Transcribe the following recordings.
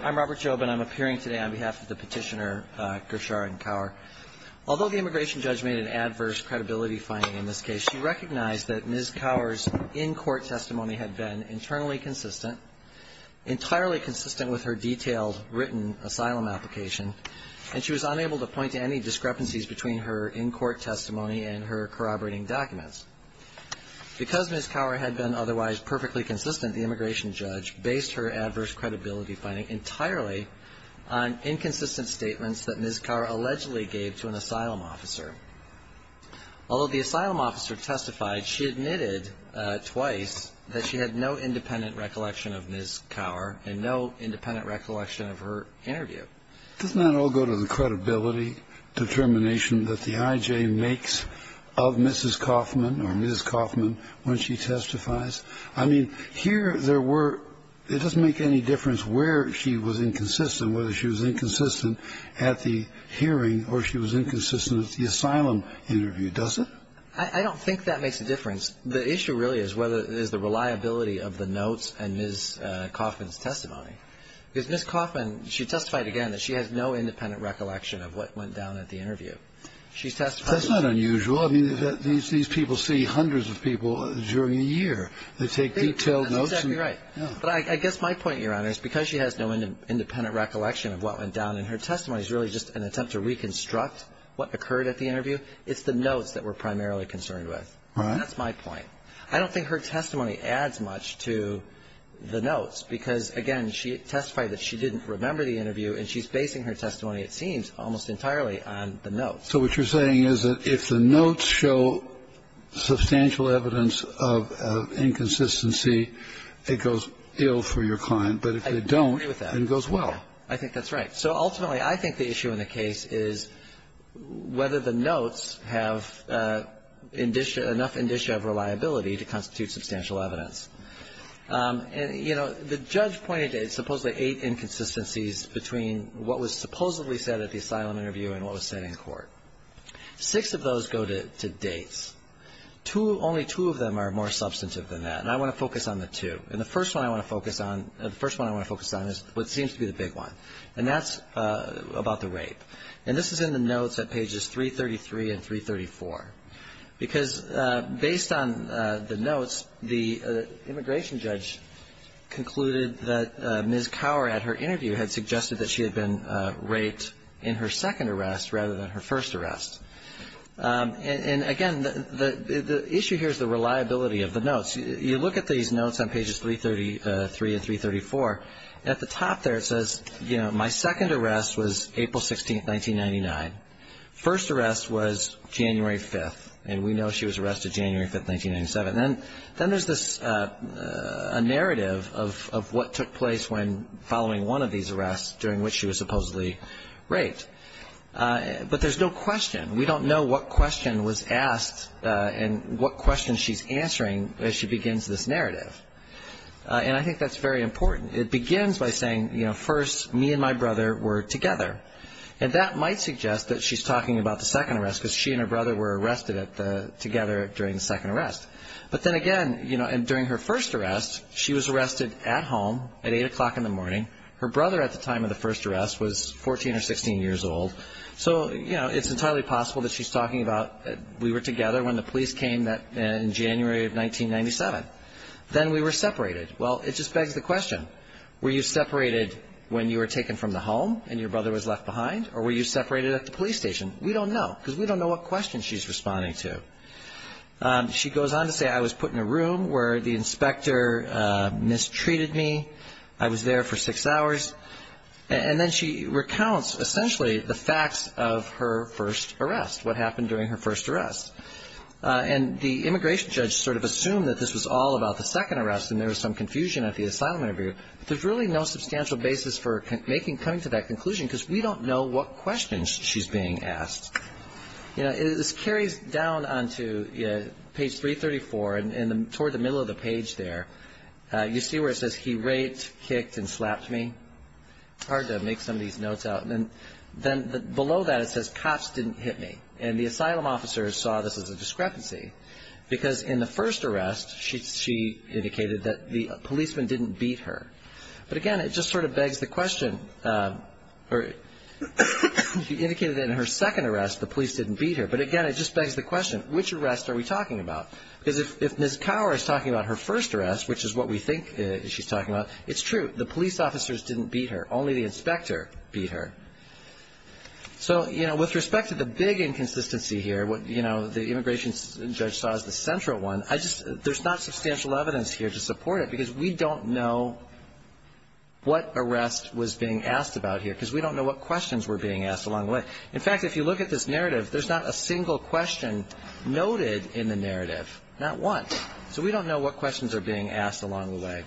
I'm Robert Jobin. I'm appearing today on behalf of the petitioner Gersharin Kaur. Although the immigration judge made an adverse credibility finding in this case, she recognized that Ms. Kaur's in-court testimony had been internally consistent, entirely consistent with her detailed written asylum application, and she was unable to point to any discrepancies between her in-court testimony and her corroborating documents. Because Ms. Kaur had been otherwise perfectly consistent, the immigration judge based her adverse credibility finding entirely on inconsistent statements that Ms. Kaur allegedly gave to an asylum officer. Although the asylum officer testified, she admitted twice that she had no independent recollection of Ms. Kaur and no independent recollection of her interview. Doesn't that all go to the credibility determination that the I.J. makes of Mrs. Kaufman or Ms. Kaufman when she testifies? I mean, here there were – it doesn't make any difference where she was inconsistent, whether she was inconsistent at the hearing or she was inconsistent at the asylum interview, does it? I don't think that makes a difference. The issue really is whether – is the reliability of the notes and Ms. Kaufman's testimony. Because Ms. Kaufman, she testified again that she has no independent recollection of what went down at the interview. She testified – That's not unusual. I mean, these people see hundreds of people during the year. They take detailed notes and – That's exactly right. But I guess my point, Your Honor, is because she has no independent recollection of what went down in her testimony is really just an attempt to reconstruct what occurred at the interview. It's the notes that we're primarily concerned with. Right. That's my point. I don't think her testimony adds much to the notes because, again, she testified that she didn't remember the interview, and she's basing her testimony, it seems, almost entirely on the notes. So what you're saying is that if the notes show substantial evidence of inconsistency, it goes ill for your client. But if they don't, it goes well. I agree with that. I think that's right. So ultimately, I think the issue in the case is whether the notes have enough indicia of reliability to constitute substantial evidence. And, you know, the judge pointed to supposedly eight inconsistencies between what was supposedly said at the asylum interview and what was said in court. Six of those go to dates. Two – only two of them are more substantive than that. And I want to focus on the two. And the first one I want to focus on – the first one I want to focus on is what seems to be the big one. And that's about the rape. And this is in the notes at pages 333 and 334. Because based on the notes, the immigration judge concluded that Ms. Cower, at her interview, had suggested that she had been raped in her second arrest rather than her first arrest. And, again, the issue here is the reliability of the notes. You look at these notes on pages 333 and 334. At the top there, it says, you know, my second arrest was April 16th, 1999. First arrest was January 5th. And we know she was arrested January 5th, 1997. Then there's this – a narrative of what took place when following one of these arrests during which she was supposedly raped. But there's no question. We don't know what question was asked and what question she's answering as she begins this narrative. And I think that's very important. It begins by saying, you know, first, me and my brother were together. And that might suggest that she's talking about the second arrest because she and her brother were arrested together during the second arrest. But then again, you know, during her first arrest, she was arrested at home at 8 o'clock in the morning. Her brother at the time of the first arrest was 14 or 16 years old. So, you know, it's entirely possible that she's talking about we were together when the police came in January of 1997. Then we were separated. Well, it just begs the question, were you separated when you were taken from the home and your brother was left behind? Or were you separated at the police station? We don't know because we don't know what question she's responding to. She goes on to say, I was put in a room where the inspector mistreated me. I was there for six hours. And then she recounts essentially the facts of her first arrest, what happened during her first arrest. And the immigration judge sort of assumed that this was all about the second arrest and there was some confusion at the asylum interview. There's really no substantial basis for coming to that conclusion because we don't know what questions she's being asked. You know, this carries down onto page 334 and toward the middle of the page there. You see where it says he raped, kicked, and slapped me? It's hard to make some of these notes out. And then below that it says cops didn't hit me. And the asylum officer saw this as a discrepancy because in the first arrest she indicated that the policeman didn't beat her. But, again, it just sort of begs the question. She indicated in her second arrest the police didn't beat her. But, again, it just begs the question, which arrest are we talking about? Because if Ms. Cower is talking about her first arrest, which is what we think she's talking about, it's true. The police officers didn't beat her. Only the inspector beat her. So, you know, with respect to the big inconsistency here, what, you know, the immigration judge saw as the central one, there's not substantial evidence here to support it because we don't know what arrest was being asked about here because we don't know what questions were being asked along the way. But, in fact, if you look at this narrative, there's not a single question noted in the narrative. Not one. So we don't know what questions are being asked along the way.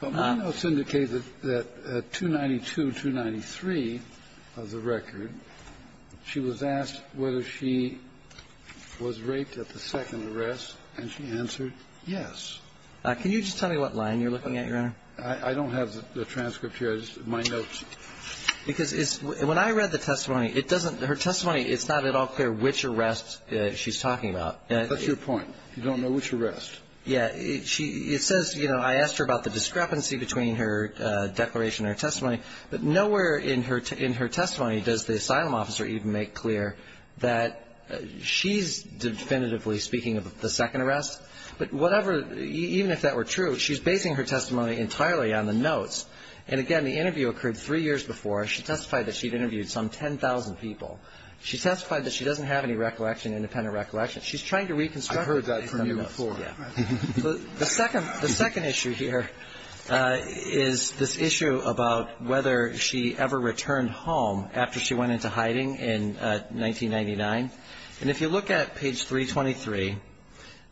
But my notes indicate that 292, 293 of the record, she was asked whether she was raped at the second arrest, and she answered yes. Can you just tell me what line you're looking at, Your Honor? I don't have the transcript here. I just have my notes. Because when I read the testimony, her testimony, it's not at all clear which arrest she's talking about. That's your point. You don't know which arrest. Yeah. It says, you know, I asked her about the discrepancy between her declaration and her testimony, but nowhere in her testimony does the asylum officer even make clear that she's definitively speaking of the second arrest. But whatever, even if that were true, she's basing her testimony entirely on the notes. And, again, the interview occurred three years before. She testified that she'd interviewed some 10,000 people. She testified that she doesn't have any recollection, independent recollection. She's trying to reconstruct. I heard that from you before. Yeah. The second issue here is this issue about whether she ever returned home after she went into hiding in 1999. And if you look at page 323,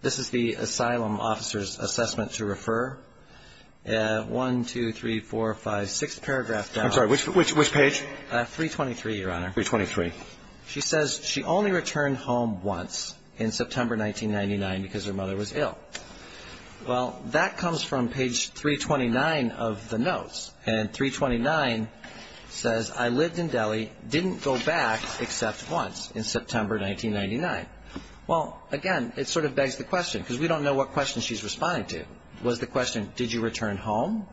this is the asylum officer's assessment to refer. One, two, three, four, five, six paragraphs down. I'm sorry. Which page? 323, Your Honor. 323. She says she only returned home once in September 1999 because her mother was ill. Well, that comes from page 329 of the notes. And 329 says, I lived in Delhi, didn't go back except once in September 1999. Well, again, it sort of begs the question because we don't know what question she's responding to. If the question was the question, did you return home,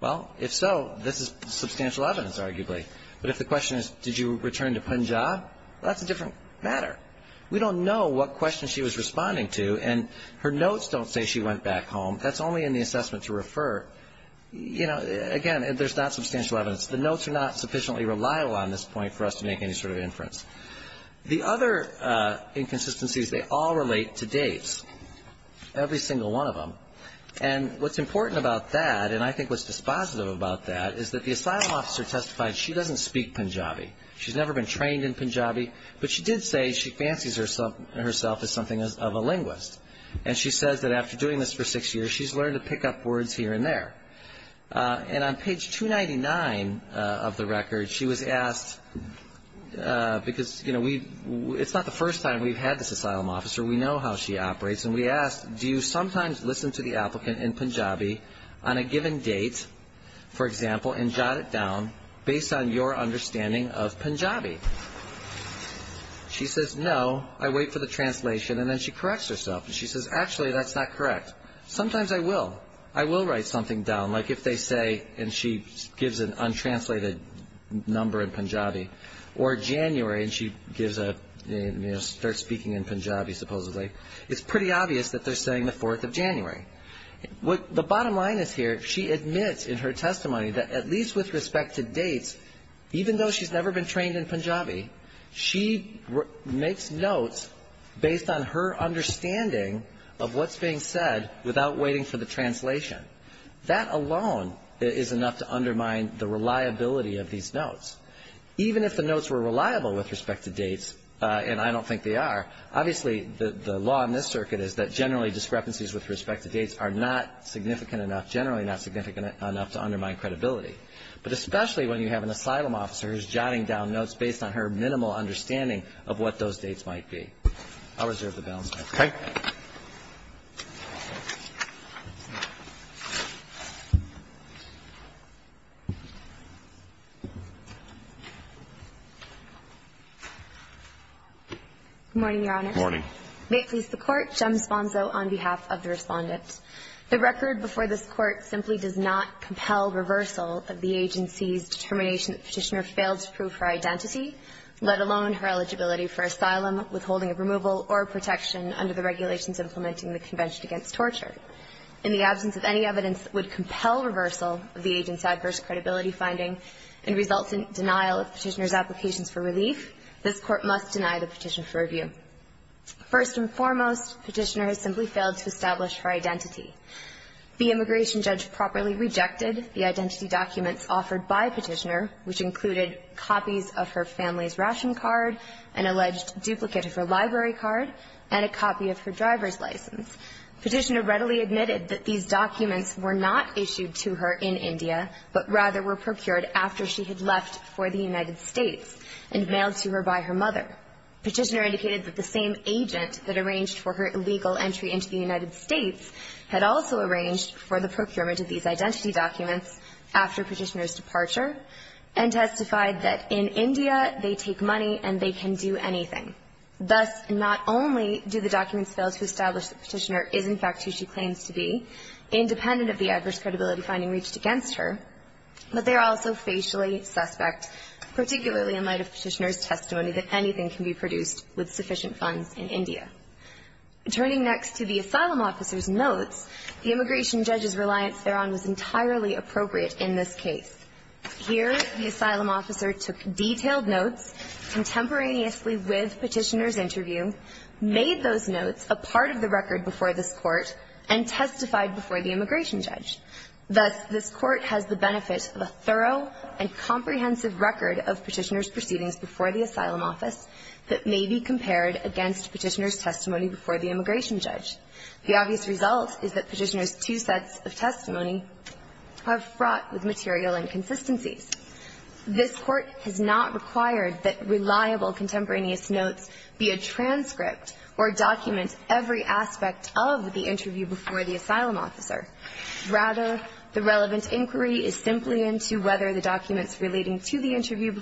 well, if so, this is substantial evidence, arguably. But if the question is, did you return to Punjab, that's a different matter. We don't know what question she was responding to, and her notes don't say she went back home. That's only in the assessment to refer. You know, again, there's not substantial evidence. The notes are not sufficiently reliable on this point for us to make any sort of inference. The other inconsistencies, they all relate to dates, every single one of them. And what's important about that, and I think what's dispositive about that, is that the asylum officer testified she doesn't speak Punjabi. She's never been trained in Punjabi, but she did say she fancies herself as something of a linguist. And she says that after doing this for six years, she's learned to pick up words here and there. And on page 299 of the record, she was asked, because, you know, it's not the first time we've had this asylum officer. We know how she operates. And we asked, do you sometimes listen to the applicant in Punjabi on a given date, for example, and jot it down based on your understanding of Punjabi? She says, no, I wait for the translation, and then she corrects herself. And she says, actually, that's not correct. Sometimes I will. I will write something down, like if they say, and she gives an untranslated number in Punjabi, or January, and she gives a, you know, starts speaking in Punjabi supposedly, it's pretty obvious that they're saying the 4th of January. The bottom line is here, she admits in her testimony that at least with respect to dates, even though she's never been trained in Punjabi, she makes notes based on her understanding of what's being said without waiting for the translation. That alone is enough to undermine the reliability of these notes. Even if the notes were reliable with respect to dates, and I don't think they are, obviously the law in this circuit is that generally discrepancies with respect to dates are not significant enough, generally not significant enough to undermine credibility. But especially when you have an asylum officer who's jotting down notes based on her minimal understanding of what those dates might be. I'll reserve the balance. Thank you. Good morning, Your Honor. Good morning. May it please the Court. Jem Sponzo on behalf of the Respondent. The record before this Court simply does not compel reversal of the agency's determination that Petitioner failed to prove her identity, let alone her eligibility for asylum, withholding of removal or protection under the regulations implementing the Convention Against Torture. In the absence of any evidence that would compel reversal of the agent's adverse credibility finding and result in denial of Petitioner's applications for relief, this Court must deny the petition for review. First and foremost, Petitioner has simply failed to establish her identity. The immigration judge properly rejected the identity documents offered by Petitioner, which included copies of her family's ration card, an alleged duplicate of her library card, and a copy of her driver's license. Petitioner readily admitted that these documents were not issued to her in India, but rather were procured after she had left for the United States and mailed to her by her mother. Petitioner indicated that the same agent that arranged for her illegal entry into the United States had also arranged for the procurement of these identity documents after Petitioner's departure, and testified that in India they take money and they can do anything. Thus, not only do the documents fail to establish that Petitioner is, in fact, who she claims to be, independent of the adverse credibility finding reached against her, but they are also facially suspect, particularly in light of Petitioner's Turning next to the asylum officer's notes, the immigration judge's reliance thereon was entirely appropriate in this case. Here, the asylum officer took detailed notes contemporaneously with Petitioner's interview, made those notes a part of the record before this Court, and testified before the immigration judge. Thus, this Court has the benefit of a thorough and comprehensive record of Petitioner's testimony before the immigration judge. The obvious result is that Petitioner's two sets of testimony are fraught with material inconsistencies. This Court has not required that reliable contemporaneous notes be a transcript or document every aspect of the interview before the asylum officer. Rather, the relevant inquiry is simply into whether the documents relating to the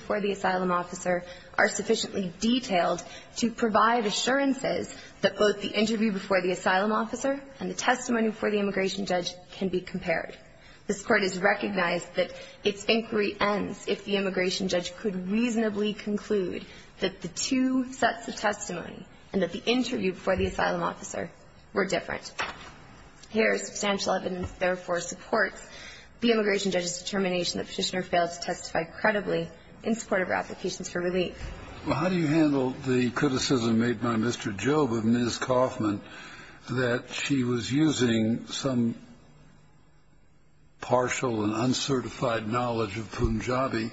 provide assurances that both the interview before the asylum officer and the testimony before the immigration judge can be compared. This Court has recognized that its inquiry ends if the immigration judge could reasonably conclude that the two sets of testimony and that the interview before the asylum officer were different. Here is substantial evidence that therefore supports the immigration judge's determination that Petitioner failed to testify credibly in support of her applications for relief. Well, how do you handle the criticism made by Mr. Job of Ms. Kauffman that she was using some partial and uncertified knowledge of Punjabi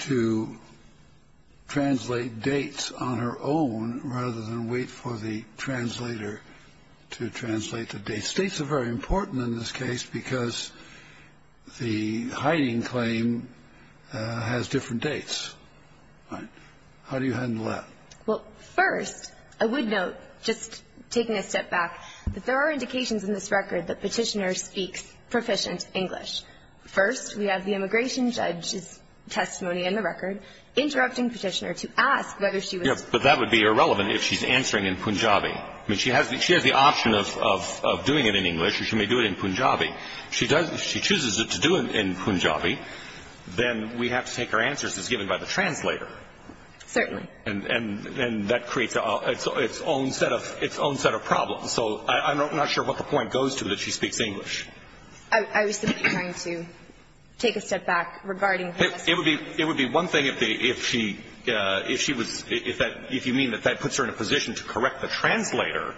to translate dates on her own rather than wait for the translator to translate the dates? States are very important in this case because the hiding claim has different dates, right? How do you handle that? Well, first, I would note, just taking a step back, that there are indications in this record that Petitioner speaks proficient English. First, we have the immigration judge's testimony in the record interrupting Petitioner to ask whether she was. Yes, but that would be irrelevant if she's answering in Punjabi. I mean, she has the option of doing it in English or she may do it in Punjabi. If she chooses to do it in Punjabi, then we have to take her answer as it's given by the translator. Certainly. And that creates its own set of problems. So I'm not sure what the point goes to that she speaks English. I was simply trying to take a step back regarding her testimony. It would be one thing if she was – if you mean that that puts her in a position to correct the translator,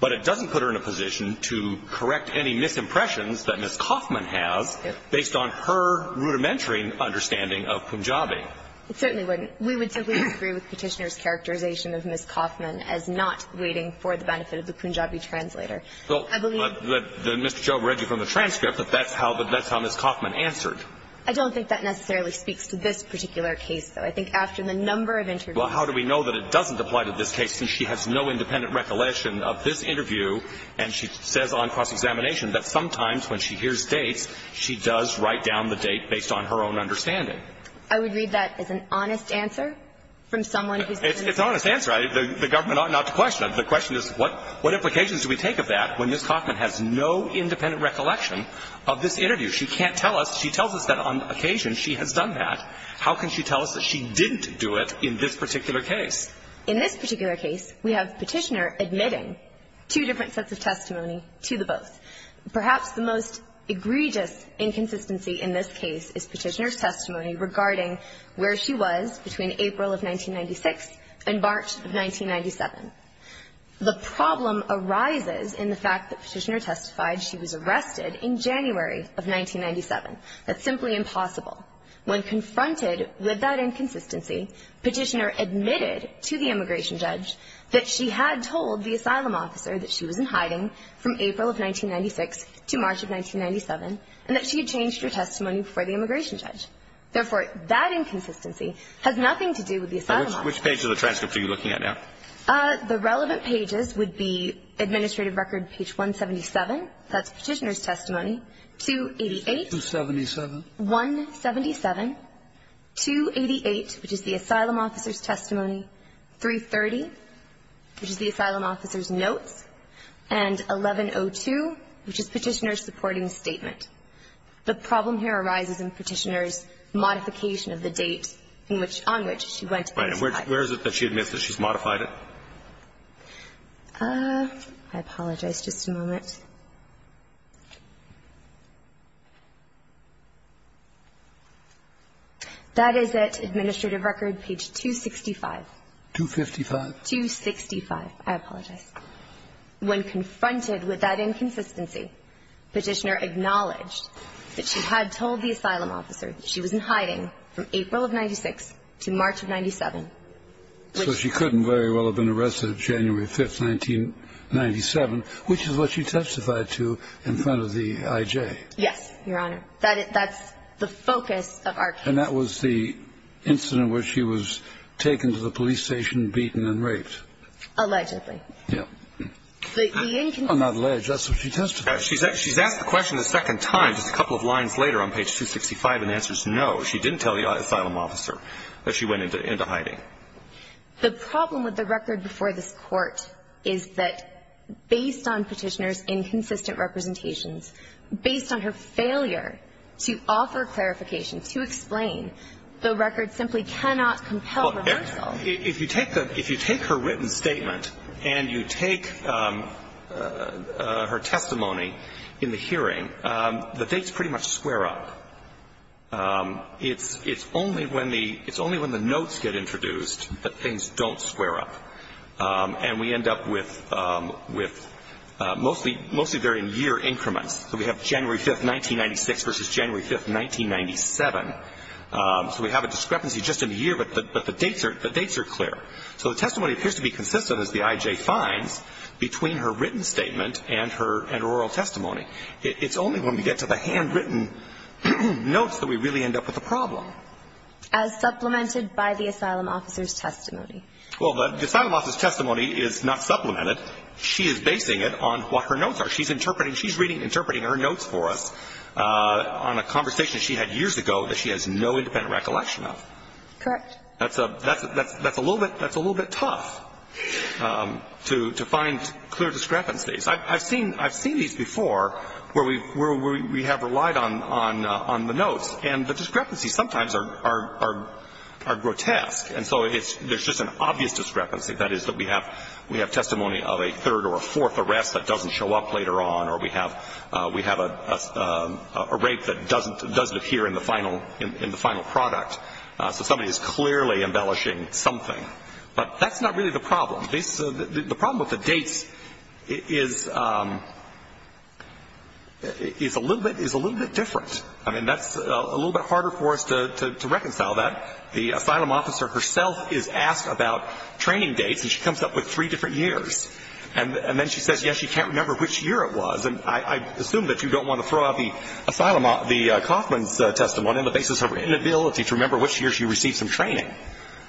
but it doesn't put her in a position to correct any misimpressions that Ms. Coffman has based on her rudimentary understanding of Punjabi. It certainly wouldn't. We would simply agree with Petitioner's characterization of Ms. Coffman as not waiting for the benefit of the Punjabi translator. So Mr. Chau read you from the transcript that that's how Ms. Coffman answered. I don't think that necessarily speaks to this particular case, though. Well, how do we know that it doesn't apply to this case since she has no independent recollection of this interview and she says on cross-examination that sometimes when she hears dates, she does write down the date based on her own understanding? I would read that as an honest answer from someone who's listening. It's an honest answer. The government ought not to question it. The question is what implications do we take of that when Ms. Coffman has no independent recollection of this interview? She can't tell us. She tells us that on occasion she has done that. How can she tell us that she didn't do it in this particular case? In this particular case, we have Petitioner admitting two different sets of testimony to the both. Perhaps the most egregious inconsistency in this case is Petitioner's testimony regarding where she was between April of 1996 and March of 1997. The problem arises in the fact that Petitioner testified she was arrested in January of 1997. That's simply impossible. When confronted with that inconsistency, Petitioner admitted to the immigration judge that she had told the asylum officer that she was in hiding from April of 1996 to March of 1997 and that she had changed her testimony before the immigration judge. Therefore, that inconsistency has nothing to do with the asylum officer. Which page of the transcript are you looking at now? The relevant pages would be administrative record page 177, that's Petitioner's testimony, 288. 277. 177. 288, which is the asylum officer's testimony. 330, which is the asylum officer's notes. And 1102, which is Petitioner's supporting statement. The problem here arises in Petitioner's modification of the date on which she went to testify. Right. And where is it that she admits that she's modified it? I apologize. Just a moment. That is at administrative record page 265. 255. 265. I apologize. When confronted with that inconsistency, Petitioner acknowledged that she had told the asylum officer that she was in hiding from April of 1996 to March of 1997. So she couldn't very well have been arrested January 5th, 1997, which is what she testified to in front of the I.J. Yes, Your Honor. That's the focus of our case. And that was the incident where she was taken to the police station, beaten, and raped. Allegedly. Yes. On that ledge, that's what she testified to. She's asked the question a second time, just a couple of lines later on page 265, and the answer is no. She didn't tell the asylum officer that she went into hiding. The problem with the record before this Court is that based on Petitioner's inconsistent representations, based on her failure to offer clarification, to explain, the record simply cannot compel her to tell. Well, if you take her written statement and you take her testimony in the hearing, the dates pretty much square up. It's only when the notes get introduced that things don't square up. And we end up with mostly varying year increments. So we have January 5th, 1996 versus January 5th, 1997. So we have a discrepancy just in the year, but the dates are clear. So the testimony appears to be consistent, as the I.J. finds, between her written statement and her oral testimony. It's only when we get to the handwritten notes that we really end up with a problem. As supplemented by the asylum officer's testimony. Well, the asylum officer's testimony is not supplemented. She is basing it on what her notes are. She's interpreting her notes for us on a conversation she had years ago that she has no independent recollection of. Correct. That's a little bit tough to find clear discrepancies. I've seen these before where we have relied on the notes. And the discrepancies sometimes are grotesque. And so there's just an obvious discrepancy. That is that we have testimony of a third or a fourth arrest that doesn't show up later on, or we have a rape that doesn't appear in the final product. So somebody is clearly embellishing something. But that's not really the problem. The problem with the dates is a little bit different. I mean, that's a little bit harder for us to reconcile that. The asylum officer herself is asked about training dates, and she comes up with three different years. And then she says, yes, she can't remember which year it was. And I assume that you don't want to throw out the asylum officer's testimony on the basis of her inability to remember which year she received some training.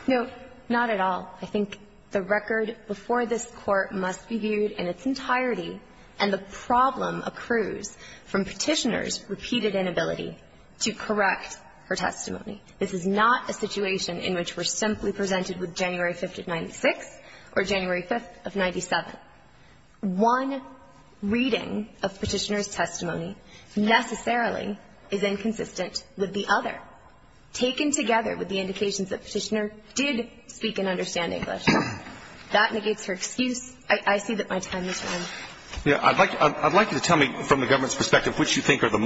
No, not at all. I think the record before this Court must be viewed in its entirety, and the problem accrues from Petitioner's repeated inability to correct her testimony. This is not a situation in which we're simply presented with January 5th of 96 or January 5th of 97. One reading of Petitioner's testimony necessarily is inconsistent with the other. But Petitioner's testimony is not taken together with the indications that Petitioner did speak and understand English. That negates her excuse. I see that my time is running. I'd like you to tell me from the government's perspective which you think are the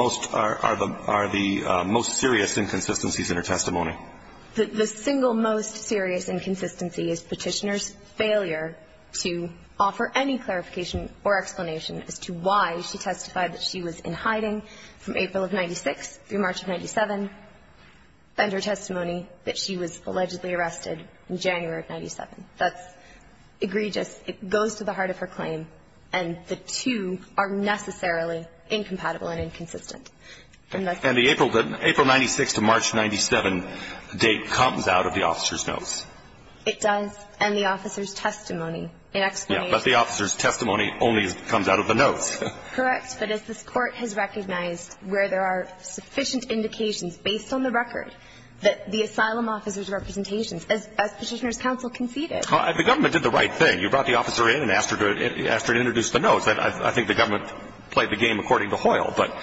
most serious inconsistencies in her testimony. The single most serious inconsistency is Petitioner's failure to offer any clarification or explanation as to why she testified that she was in hiding from April of 96 through March of 97, and her testimony that she was allegedly arrested in January of 97. That's egregious. It goes to the heart of her claim, and the two are necessarily incompatible and inconsistent. And the April 96 to March 97 date comes out of the officer's notes. It does, and the officer's testimony in explanation. But the officer's testimony only comes out of the notes. Correct. But as this Court has recognized where there are sufficient indications based on the record that the asylum officer's representations, as Petitioner's counsel conceded. The government did the right thing. You brought the officer in and asked her to introduce the notes. I think the government played the game according to Hoyle, but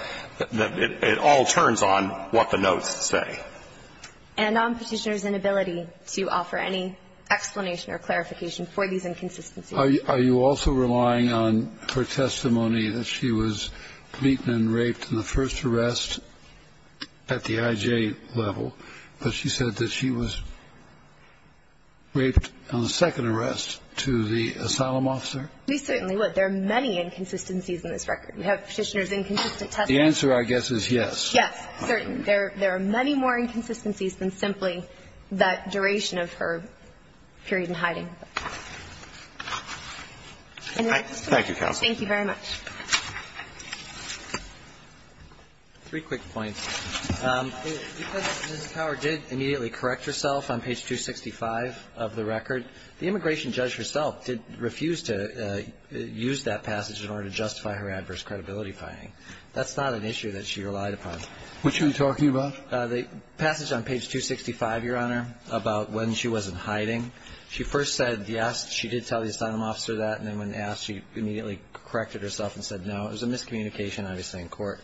it all turns on what the notes say. And on Petitioner's inability to offer any explanation or clarification for these inconsistencies. Are you also relying on her testimony that she was beaten and raped in the first arrest at the IJ level, but she said that she was raped on the second arrest to the asylum officer? We certainly would. There are many inconsistencies in this record. We have Petitioner's inconsistent testimony. The answer, I guess, is yes. Yes, certainly. There are many more inconsistencies than simply that duration of her period in hiding. Thank you, counsel. Thank you very much. Three quick points. Because Ms. Power did immediately correct herself on page 265 of the record, the immigration judge herself did refuse to use that passage in order to justify her adverse credibility finding. That's not an issue that she relied upon. Which are you talking about? The passage on page 265, Your Honor, about when she wasn't hiding. She first said yes, she did tell the asylum officer that. And then when asked, she immediately corrected herself and said no. It was a miscommunication, obviously, in court.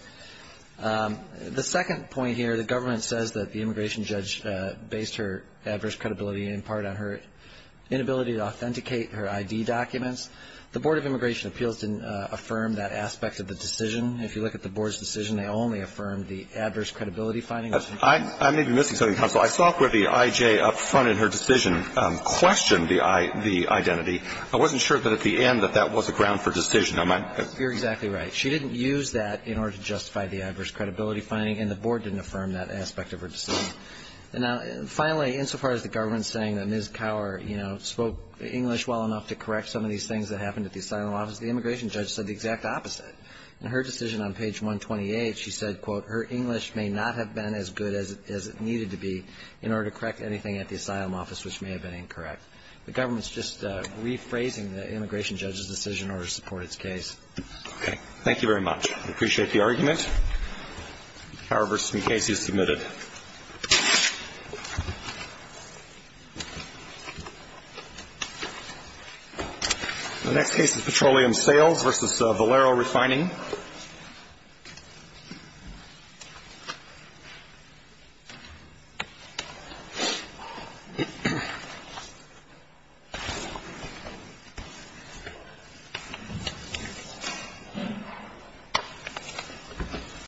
The second point here, the government says that the immigration judge based her adverse credibility in part on her inability to authenticate her I.D. documents. The Board of Immigration Appeals didn't affirm that aspect of the decision. If you look at the Board's decision, they only affirmed the adverse credibility finding. I may be missing something, counsel. I saw where the I.J. up front in her decision questioned the identity. I wasn't sure that at the end that that was a ground for decision. You're exactly right. She didn't use that in order to justify the adverse credibility finding, and the Board didn't affirm that aspect of her decision. Now, finally, insofar as the government saying that Ms. Power, you know, spoke English well enough to correct some of these things that happened at the asylum office, the immigration judge said the exact opposite. In her decision on page 128, she said, quote, her English may not have been as good as it needed to be in order to correct anything at the asylum office which may have been incorrect. The government's just rephrasing the immigration judge's decision in order to support its case. Okay. Thank you very much. I appreciate the argument. Power v. Mukasey is submitted. The next case is Petroleum Sales v. Valero Refining.